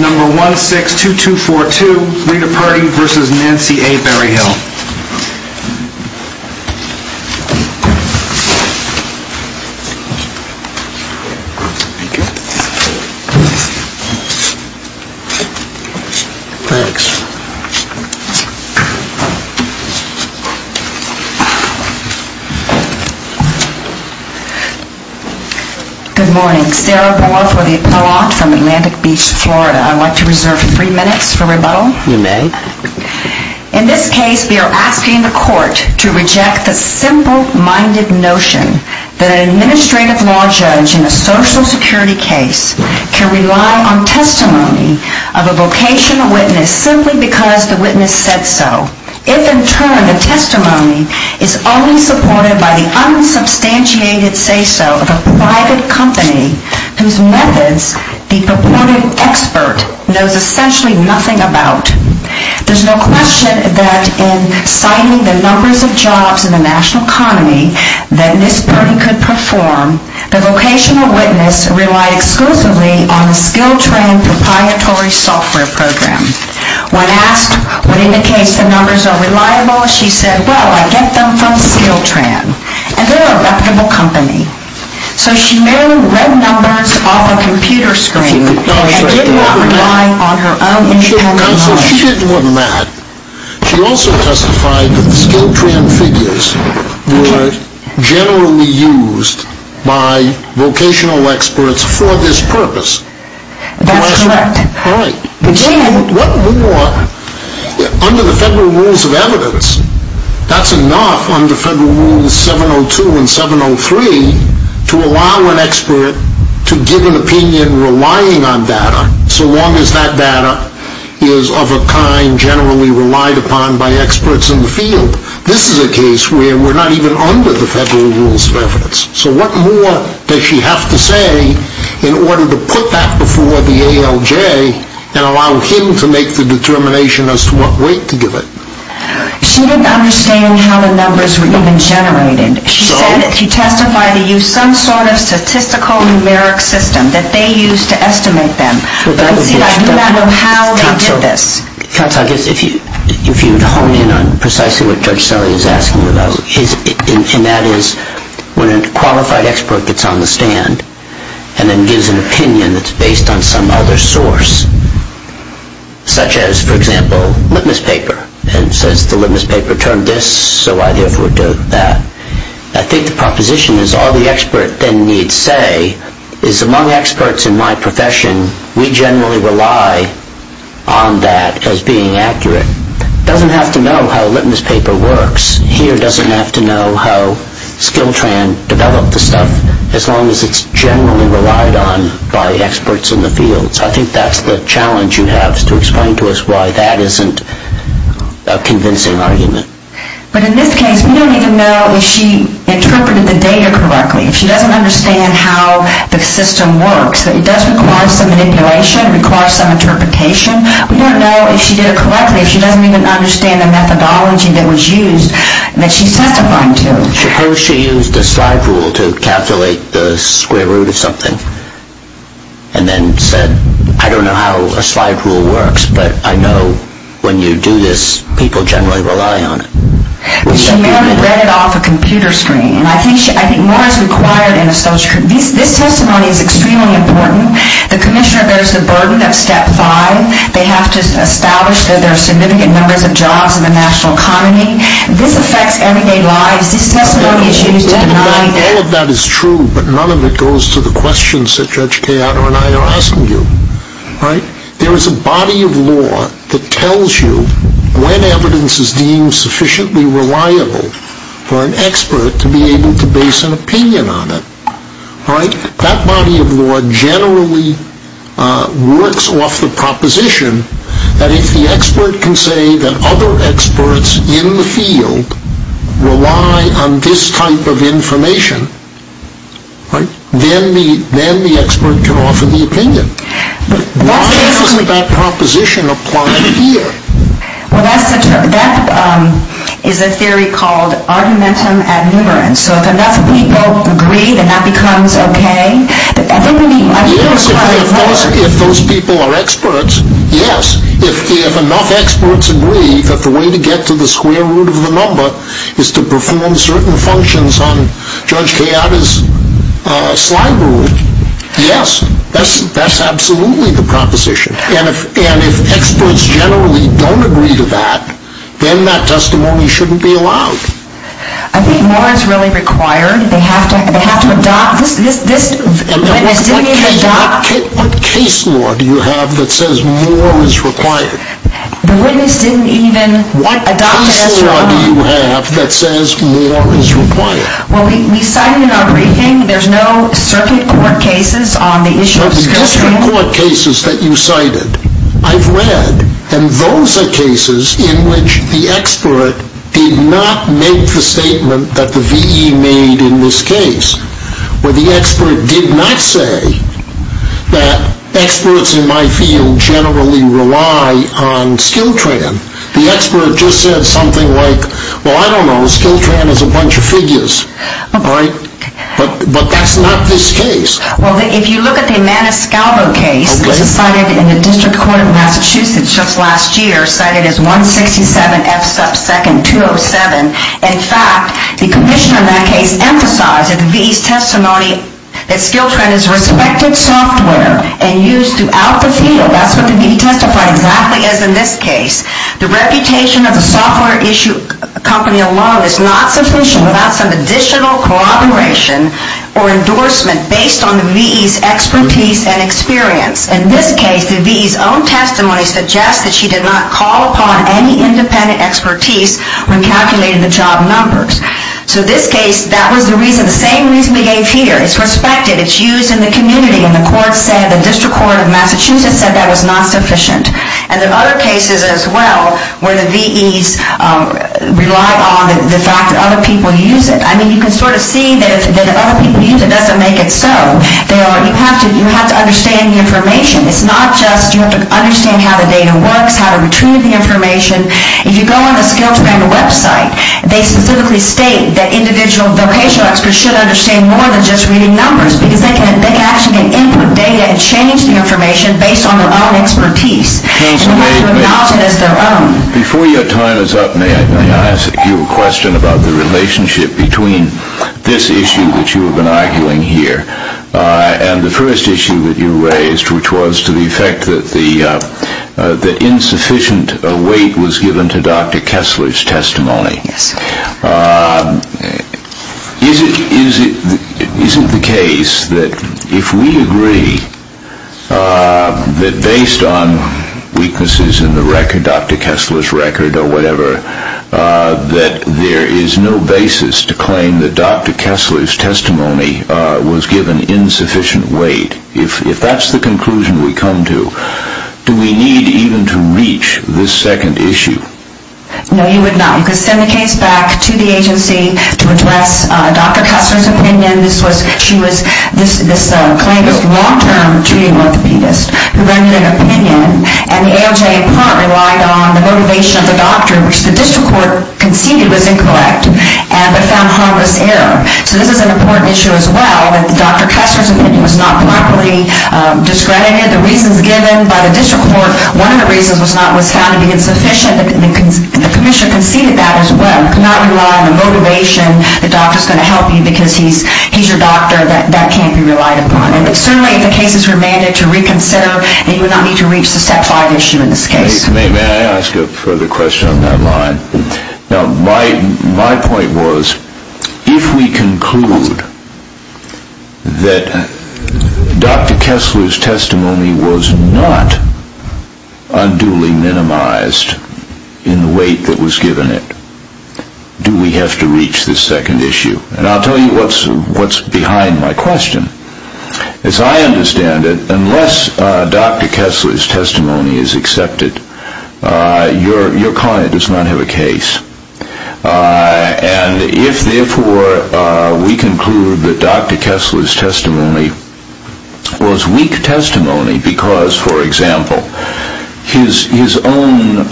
Number 162242, Rita Pardee versus Nancy A. Berryhill. Thank you. Thanks. Good morning. Sarah Boer for the Appellant from Atlantic Beach, Florida. I'd like to reserve three minutes for rebuttal. You may. In this case, we are asking the court to reject the simple-minded notion that an administrative law judge in a Social Security case can rely on testimony of a vocational witness simply because the witness said so, if in turn the testimony is only supported by the unsubstantiated say-so of a private company whose methods the purported expert knows essentially nothing about. There's no question that in citing the numbers of jobs in the national economy that this party could perform, the vocational witness relied exclusively on the Skiltran proprietary software program. When asked what indicates the numbers are reliable, she said, well, I get them from Skiltran, and they're a reputable company. So she mailed red numbers off a computer screen and did not rely on her own internal hard drive. She didn't want that. She also testified that the Skiltran figures were generally used by vocational experts for this purpose. That's correct. All right. Under the Federal Rules of Evidence, that's enough under Federal Rules 702 and 703 to allow an expert to give an opinion relying on data, so long as that data is of a kind generally relied upon by experts in the field. This is a case where we're not even under the Federal Rules of Evidence. So what more does she have to say in order to put that before the ALJ and allow him to make the determination as to what weight to give it? She didn't understand how the numbers were even generated. She said if you testify, they use some sort of statistical numeric system that they use to estimate them. But I do not know how they did this. Counsel, I guess if you would hone in on precisely what Judge Sully is asking about, and that is when a qualified expert gets on the stand and then gives an opinion that's based on some other source, such as, for example, litmus paper, and says the litmus paper turned this, so I therefore do that. I think the proposition is all the expert then needs say is among experts in my profession, we generally rely on that as being accurate. It doesn't have to know how litmus paper works. Here doesn't have to know how Skilltran developed the stuff, as long as it's generally relied on by experts in the field. So I think that's the challenge you have to explain to us why that isn't a convincing argument. But in this case, we don't even know if she interpreted the data correctly. If she doesn't understand how the system works, it does require some manipulation, requires some interpretation. We don't know if she did it correctly, if she doesn't even understand the methodology that was used that she testified to. Suppose she used a slide rule to calculate the square root of something, and then said, I don't know how a slide rule works, but I know when you do this, people generally rely on it. She may have read it off a computer screen. I think more is required. This testimony is extremely important. The commissioner bears the burden of step five. They have to establish that there are significant numbers of jobs in the national economy. This affects everyday lives. All of that is true, but none of it goes to the questions that Judge Cayato and I are asking you. There is a body of law that tells you when evidence is deemed sufficiently reliable for an expert to be able to base an opinion on it. That body of law generally works off the proposition that if the expert can say that other experts in the field rely on this type of information, then the expert can offer the opinion. Why doesn't that proposition apply here? That is a theory called argumentum ad numerum. If enough people agree, then that becomes okay. If those people are experts, yes. If enough experts agree that the way to get to the square root of the number is to perform certain functions on Judge Cayato's slide rule, yes. That is absolutely the proposition. If experts generally don't agree to that, then that testimony shouldn't be allowed. I think more is really required. What case law do you have that says more is required? What case law do you have that says more is required? We cited in our briefing that there are no circuit court cases on the issue of scrutiny. The circuit court cases that you cited, I've read, and those are cases in which the expert did not make the statement that the V.E. made in this case, where the expert did not say that experts in my field generally rely on Skiltran. The expert just said something like, well, I don't know, Skiltran is a bunch of figures. But that's not this case. Well, if you look at the Maniscalvo case, this was cited in the District Court of Massachusetts just last year, cited as 167 F sub 2nd 207. In fact, the commissioner in that case emphasized in the V.E.'s testimony that Skiltran is respected software and used throughout the field. That's what the V.E. testified exactly as in this case. The reputation of the software issue company alone is not sufficient without some additional corroboration or endorsement based on the V.E.'s expertise and experience. In this case, the V.E.'s own testimony suggests that she did not call upon any independent expertise when calculating the job numbers. So this case, that was the reason, the same reason we gave here. It's respected. It's used in the community. And the court said, the District Court of Massachusetts said that was not sufficient. And there are other cases as well where the V.E.'s rely on the fact that other people use it. I mean, you can sort of see that if other people use it, it doesn't make it so. You have to understand the information. It's not just you have to understand how the data works, how to retrieve the information. If you go on the Skiltran website, they specifically state that individual vocational experts should understand more than just reading numbers because they can actually input data and change the information based on their own expertise. Before your time is up, may I ask you a question about the relationship between this issue that you have been arguing here and the first issue that you raised, which was to the effect that insufficient weight was given to Dr. Kessler's testimony. Is it the case that if we agree that based on weaknesses in the record, Dr. Kessler's record or whatever, that there is no basis to claim that Dr. Kessler's testimony was given insufficient weight? If that's the conclusion we come to, do we need even to reach this second issue? No, you would not. You could send the case back to the agency to address Dr. Kessler's opinion. She was this claimant's long-term treating orthopedist who rendered an opinion, and the ALJ in part relied on the motivation of the doctor, which the district court conceded was incorrect but found harmless error. So this is an important issue as well, that Dr. Kessler's opinion was not properly discredited. The reasons given by the district court, one of the reasons was found to be insufficient, and the commission conceded that as well. You could not rely on the motivation, the doctor's going to help you because he's your doctor, that can't be relied upon. And certainly if the case is remanded to reconsider, you would not need to reach the step five issue in this case. May I ask a further question on that line? My point was, if we conclude that Dr. Kessler's testimony was not unduly minimized in the weight that was given it, do we have to reach this second issue? And I'll tell you what's behind my question. As I understand it, unless Dr. Kessler's testimony is accepted, your client does not have a case. And if therefore we conclude that Dr. Kessler's testimony was weak testimony because, for example, his own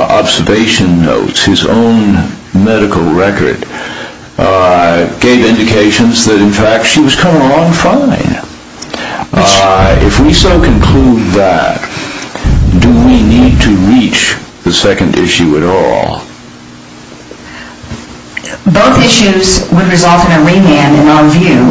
observation notes, his own medical record, gave indications that in fact she was coming along fine. If we so conclude that, do we need to reach the second issue at all? Both issues would result in a remand in our view.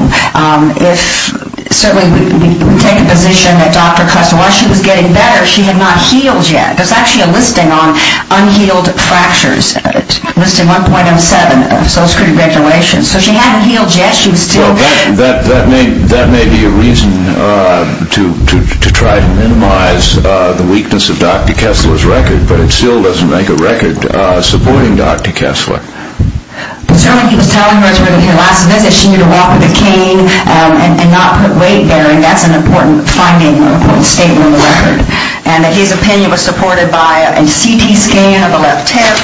If certainly we take a position that Dr. Kessler, while she was getting better, she had not healed yet. There's actually a listing on unhealed fractures, listing 1.07 of social security regulations. So she hadn't healed yet. That may be a reason to try to minimize the weakness of Dr. Kessler's record. But it still doesn't make a record supporting Dr. Kessler. Certainly he was telling her during her last visit she needed to walk with a cane and not put weight there. And that's an important finding, an important statement on the record. And that his opinion was supported by a CT scan of the left hip.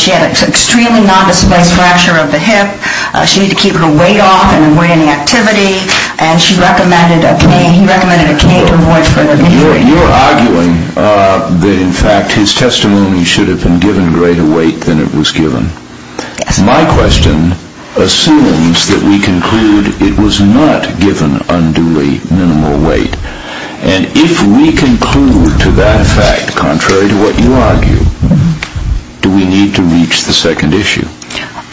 She had an extremely nondisplaced fracture of the hip. She needed to keep her weight off and avoid any activity. And she recommended a cane. He recommended a cane to avoid further injury. You're arguing that in fact his testimony should have been given greater weight than it was given. My question assumes that we conclude it was not given unduly minimal weight. And if we conclude to that fact, contrary to what you argue, do we need to reach the second issue?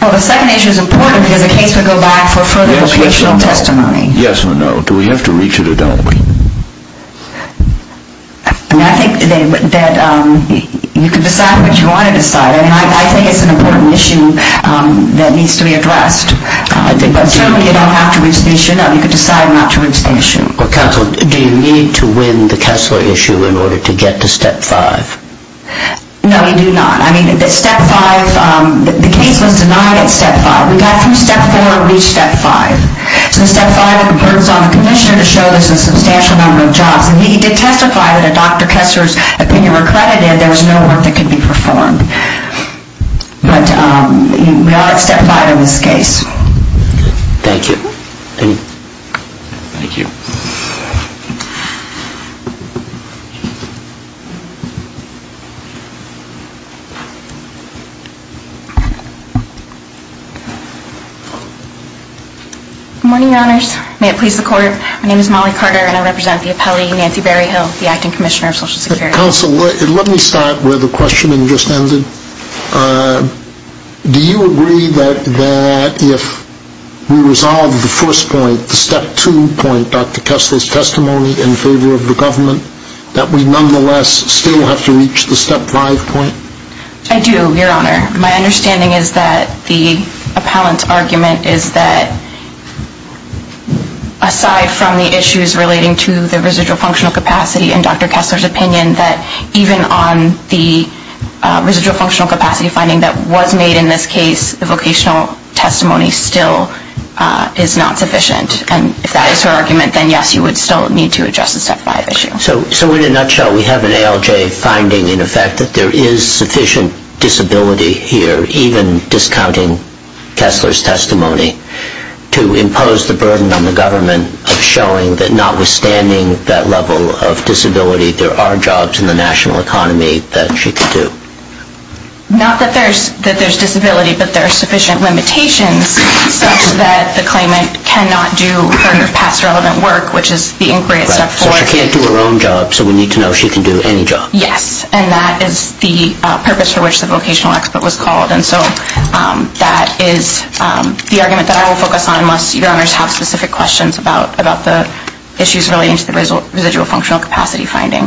Well, the second issue is important because the case would go back for further patient testimony. Yes or no, do we have to reach it or don't we? I think that you can decide what you want to decide. And I think it's an important issue that needs to be addressed. Certainly you don't have to reach the issue. No, you can decide not to reach the issue. Counsel, do you need to win the Kessler issue in order to get to step five? No, you do not. I mean, the step five, the case was denied at step five. We got through step four and reached step five. So step five, it burdens on the commissioner to show there's a substantial number of jobs. And he did testify that if Dr. Kessler's opinion were credited, there was no work that could be performed. But we are at step five in this case. Thank you. Thank you. Good morning, Your Honors. May it please the Court. My name is Molly Carter, and I represent the appellee, Nancy Berryhill, the acting commissioner of Social Security. Counsel, let me start where the questioning just ended. Do you agree that if we resolve the first point, the step two point, Dr. Kessler's testimony in favor of the government, that we nonetheless still have to reach the step five point? I do, Your Honor. My understanding is that the appellant's argument is that aside from the issues relating to the residual functional capacity and Dr. Kessler's opinion, that even on the residual functional capacity finding that was made in this case, the vocational testimony still is not sufficient. And if that is her argument, then, yes, you would still need to address the step five issue. So in a nutshell, we have an ALJ finding, in effect, that there is sufficient disability here, even discounting Kessler's testimony, to impose the burden on the government of showing that notwithstanding that level of disability, there are jobs in the national economy that she could do. Not that there's disability, but there are sufficient limitations such that the claimant cannot do her past relevant work, which is the inquiry at step four. So she can't do her own job, so we need to know she can do any job. Yes, and that is the purpose for which the vocational expert was called. And so that is the argument that I will focus on unless Your Honors have specific questions about the issues relating to the residual functional capacity finding.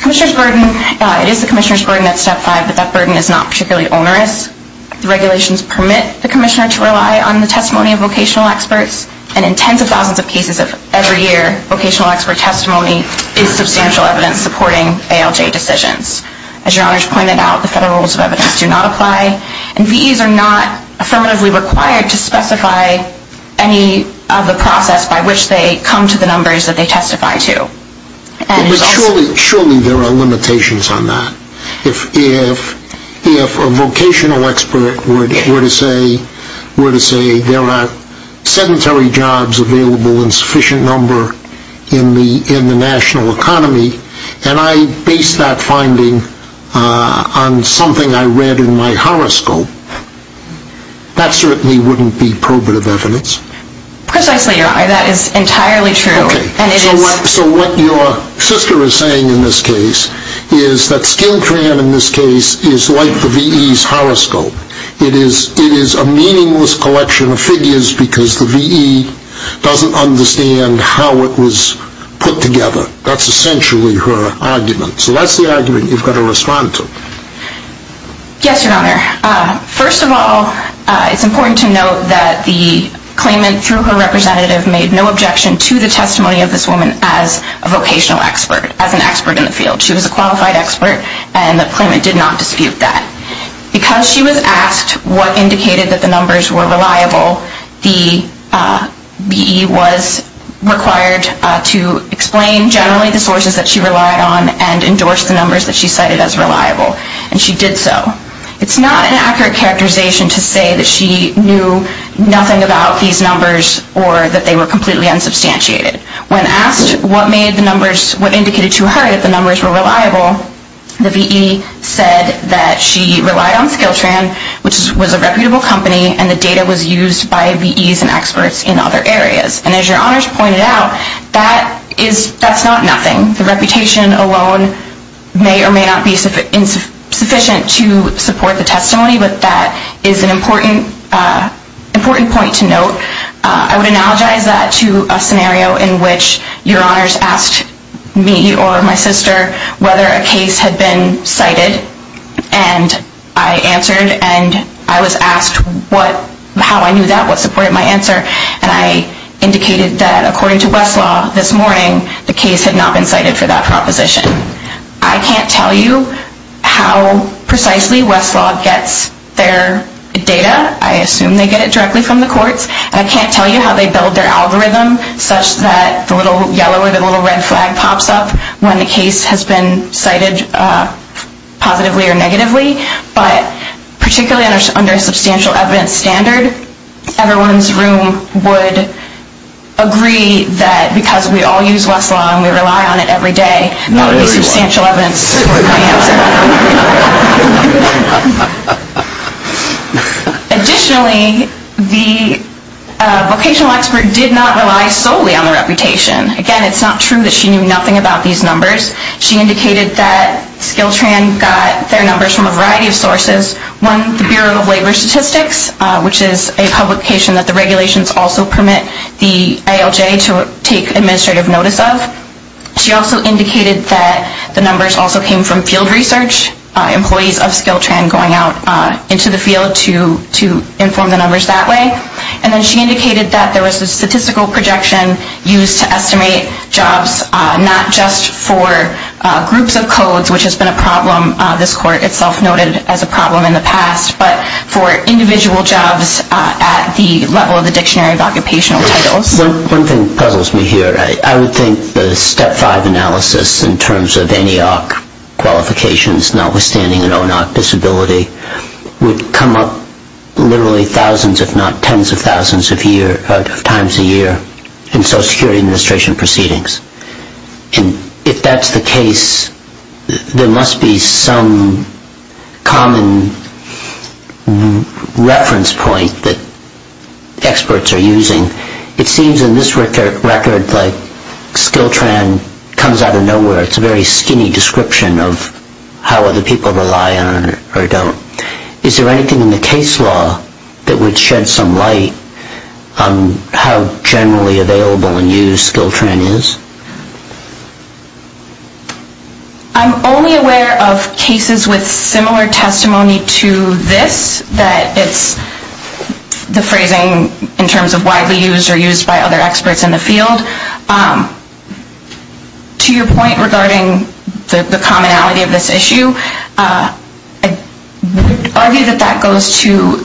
Commissioner's burden, it is the commissioner's burden at step five, but that burden is not particularly onerous. The regulations permit the commissioner to rely on the testimony of vocational experts, and in tens of thousands of cases every year, vocational expert testimony is substantial evidence supporting ALJ decisions. As Your Honors pointed out, the federal rules of evidence do not apply, and VEs are not affirmatively required to specify any of the process by which they come to the numbers that they testify to. But surely there are limitations on that. If a vocational expert were to say there are sedentary jobs available in sufficient number in the national economy, and I base that finding on something I read in my horoscope, that certainly wouldn't be probative evidence. Precisely, Your Honor, that is entirely true. Okay, so what your sister is saying in this case is that skin tram in this case is like the VEs horoscope. It is a meaningless collection of figures because the VE doesn't understand how it was put together. That's essentially her argument. So that's the argument you've got to respond to. Yes, Your Honor. First of all, it's important to note that the claimant, through her representative, made no objection to the testimony of this woman as a vocational expert, as an expert in the field. She was a qualified expert, and the claimant did not dispute that. Because she was asked what indicated that the numbers were reliable, the VE was required to explain generally the sources that she relied on and endorse the numbers that she cited as reliable, and she did so. It's not an accurate characterization to say that she knew nothing about these numbers or that they were completely unsubstantiated. When asked what indicated to her that the numbers were reliable, the VE said that she relied on Skiltran, which was a reputable company, and the data was used by VEs and experts in other areas. And as Your Honor's pointed out, that's not nothing. The reputation alone may or may not be sufficient to support the testimony, but that is an important point to note. I would analogize that to a scenario in which Your Honors asked me or my sister whether a case had been cited, and I answered. And I was asked how I knew that, what supported my answer, and I indicated that according to Westlaw this morning, the case had not been cited for that proposition. I can't tell you how precisely Westlaw gets their data. I assume they get it directly from the courts. And I can't tell you how they build their algorithm such that the little yellow or the little red flag pops up when the case has been cited positively or negatively. But particularly under a substantial evidence standard, everyone's room would agree that because we all use Westlaw and we rely on it every day, that would be substantial evidence to support my answer. Additionally, the vocational expert did not rely solely on the reputation. Again, it's not true that she knew nothing about these numbers. She indicated that Skiltran got their numbers from a variety of sources. One, the Bureau of Labor Statistics, which is a publication that the regulations also permit the ALJ to take administrative notice of. She also indicated that the numbers also came from field research, employees of Skiltran going out into the field to inform the numbers that way. And then she indicated that there was a statistical projection used to estimate jobs, not just for groups of codes, which has been a problem. This court itself noted as a problem in the past, but for individual jobs at the level of the Dictionary of Occupational Titles. One thing puzzles me here. I would think the Step 5 analysis in terms of any AHRQ qualifications, notwithstanding an OAHRQ disability, would come up literally thousands, if not tens of thousands of times a year in Social Security Administration proceedings. And if that's the case, there must be some common reference point that experts are using. It seems in this record that Skiltran comes out of nowhere. It's a very skinny description of how other people rely on it or don't. Is there anything in the case law that would shed some light on how generally available and used Skiltran is? I'm only aware of cases with similar testimony to this, that it's the phrasing in terms of widely used or used by other experts in the field. To your point regarding the commonality of this issue, I would argue that that goes to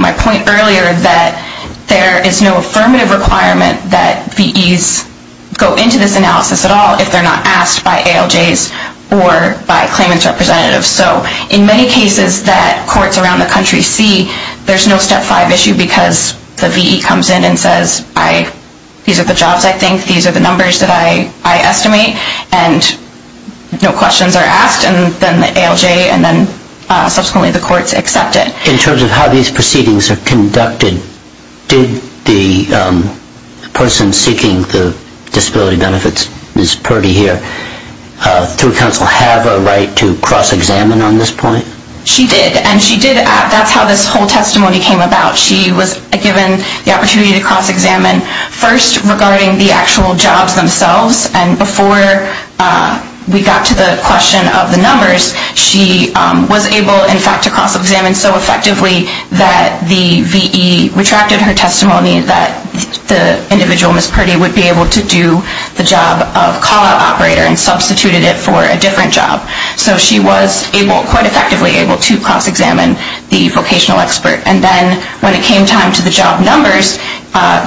my point earlier that there is no affirmative requirement that VEs go into this analysis at all if they're not asked by ALJs or by claimants' representatives. So in many cases that courts around the country see, there's no Step 5 issue because the VE comes in and says, these are the jobs I think, these are the numbers that I estimate, and no questions are asked, and then ALJ and then subsequently the courts accept it. In terms of how these proceedings are conducted, did the person seeking the disability benefits, Ms. Purdy here, through counsel have a right to cross-examine on this point? She did, and that's how this whole testimony came about. She was given the opportunity to cross-examine first regarding the actual jobs themselves, and before we got to the question of the numbers, she was able, in fact, to cross-examine so effectively that the VE retracted her testimony that the individual, Ms. Purdy, would be able to do the job of call-out operator and substituted it for a different job. So she was quite effectively able to cross-examine the vocational expert. And then when it came time to the job numbers,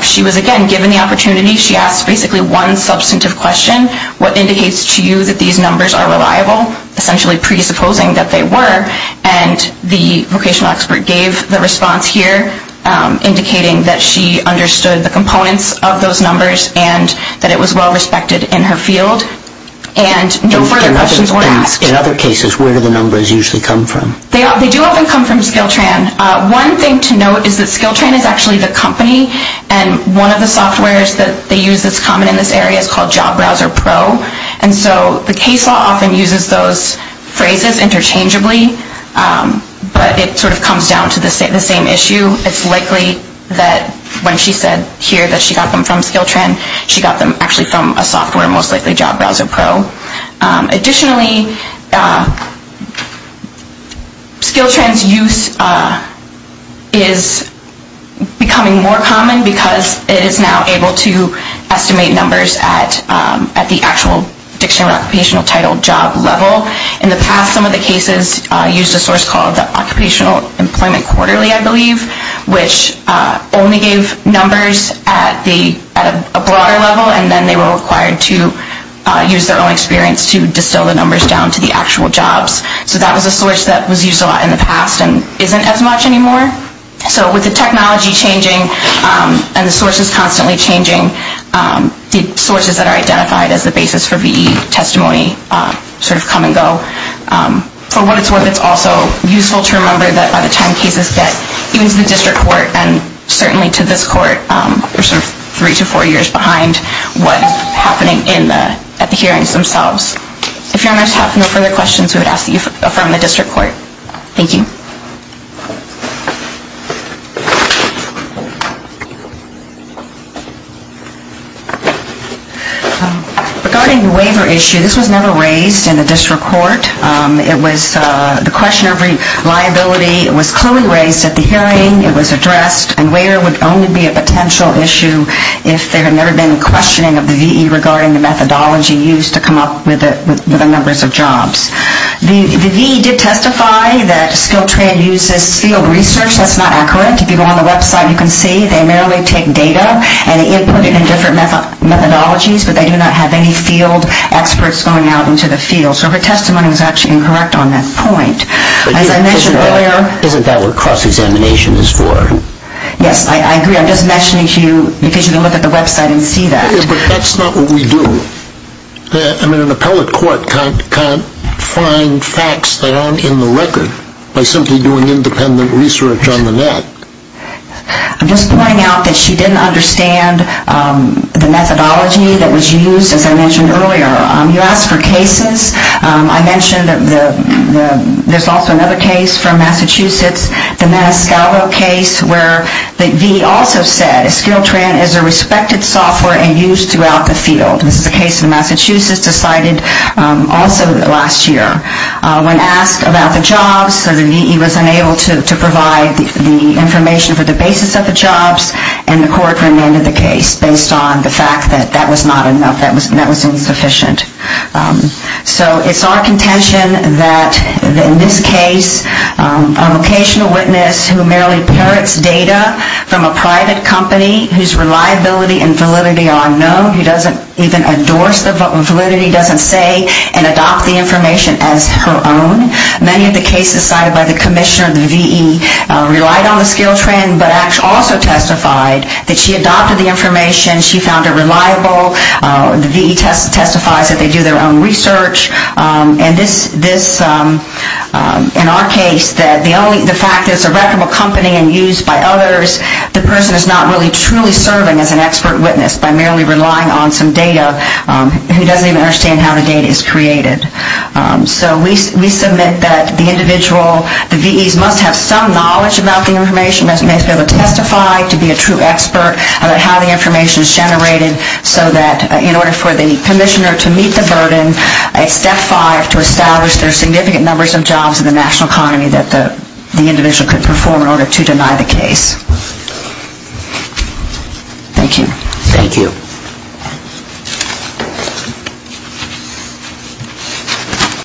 she was again given the opportunity, she asked basically one substantive question, what indicates to you that these numbers are reliable, essentially presupposing that they were, and the vocational expert gave the response here, indicating that she understood the components of those numbers and that it was well-respected in her field, and no further questions were asked. In other cases, where do the numbers usually come from? They do often come from Skiltran. One thing to note is that Skiltran is actually the company and one of the softwares that they use that's common in this area is called Job Browser Pro, and so the case law often uses those phrases interchangeably, but it sort of comes down to the same issue. It's likely that when she said here that she got them from Skiltran, she got them actually from a software, most likely Job Browser Pro. Additionally, Skiltran's use is becoming more common because it is now able to estimate numbers at the actual dictionary occupational title job level. In the past, some of the cases used a source called the Occupational Employment Quarterly, I believe, which only gave numbers at a broader level, and then they were required to use their own experience to distill the numbers down to the actual jobs. So that was a source that was used a lot in the past and isn't as much anymore. So with the technology changing and the sources constantly changing, the sources that are identified as the basis for VE testimony sort of come and go. For what it's worth, it's also useful to remember that by the time cases get even to the district court and certainly to this court, we're sort of three to four years behind what is happening at the hearings themselves. If your honors have no further questions, we would ask that you affirm the district court. Thank you. Regarding the waiver issue, this was never raised in the district court. It was the question of reliability. It was clearly raised at the hearing, it was addressed, and waiver would only be a potential issue if there had never been questioning of the VE regarding the methodology used to come up with the numbers of jobs. The VE did testify that skilled trade uses field research. That's not accurate. If you go on the website, you can see they merely take data and input it in different methodologies, but they do not have any field experts going out into the field. So her testimony was actually incorrect on that point. Isn't that what cross-examination is for? Yes, I agree. I'm just mentioning to you because you can look at the website and see that. But that's not what we do. An appellate court can't find facts that aren't in the record by simply doing independent research on the net. I'm just pointing out that she didn't understand the methodology that was used, as I mentioned earlier. You asked for cases. I mentioned there's also another case from Massachusetts, the Maniscalco case, where the VE also said skilled trade is a respected software and used throughout the field. This is a case in Massachusetts decided also last year. When asked about the jobs, the VE was unable to provide the information for the basis of the jobs, and the court remanded the case based on the fact that that was not enough, that was insufficient. So it's our contention that in this case a vocational witness who merely parrots data from a private company whose reliability and validity are unknown, who doesn't even endorse the validity, doesn't say and adopt the information as her own. Many of the cases cited by the commissioner of the VE relied on the skilled trade but also testified that she adopted the information, she found it reliable. The VE testifies that they do their own research. And this, in our case, the fact that it's a reputable company and used by others, the person is not really truly serving as an expert witness by merely relying on some data who doesn't even understand how the data is created. So we submit that the individual, the VEs must have some knowledge about the information, must be able to testify to be a true expert about how the information is generated so that in order for the commissioner to meet the burden, step five to establish there are significant numbers of jobs in the national economy that the individual could perform in order to deny the case. Thank you. Thank you.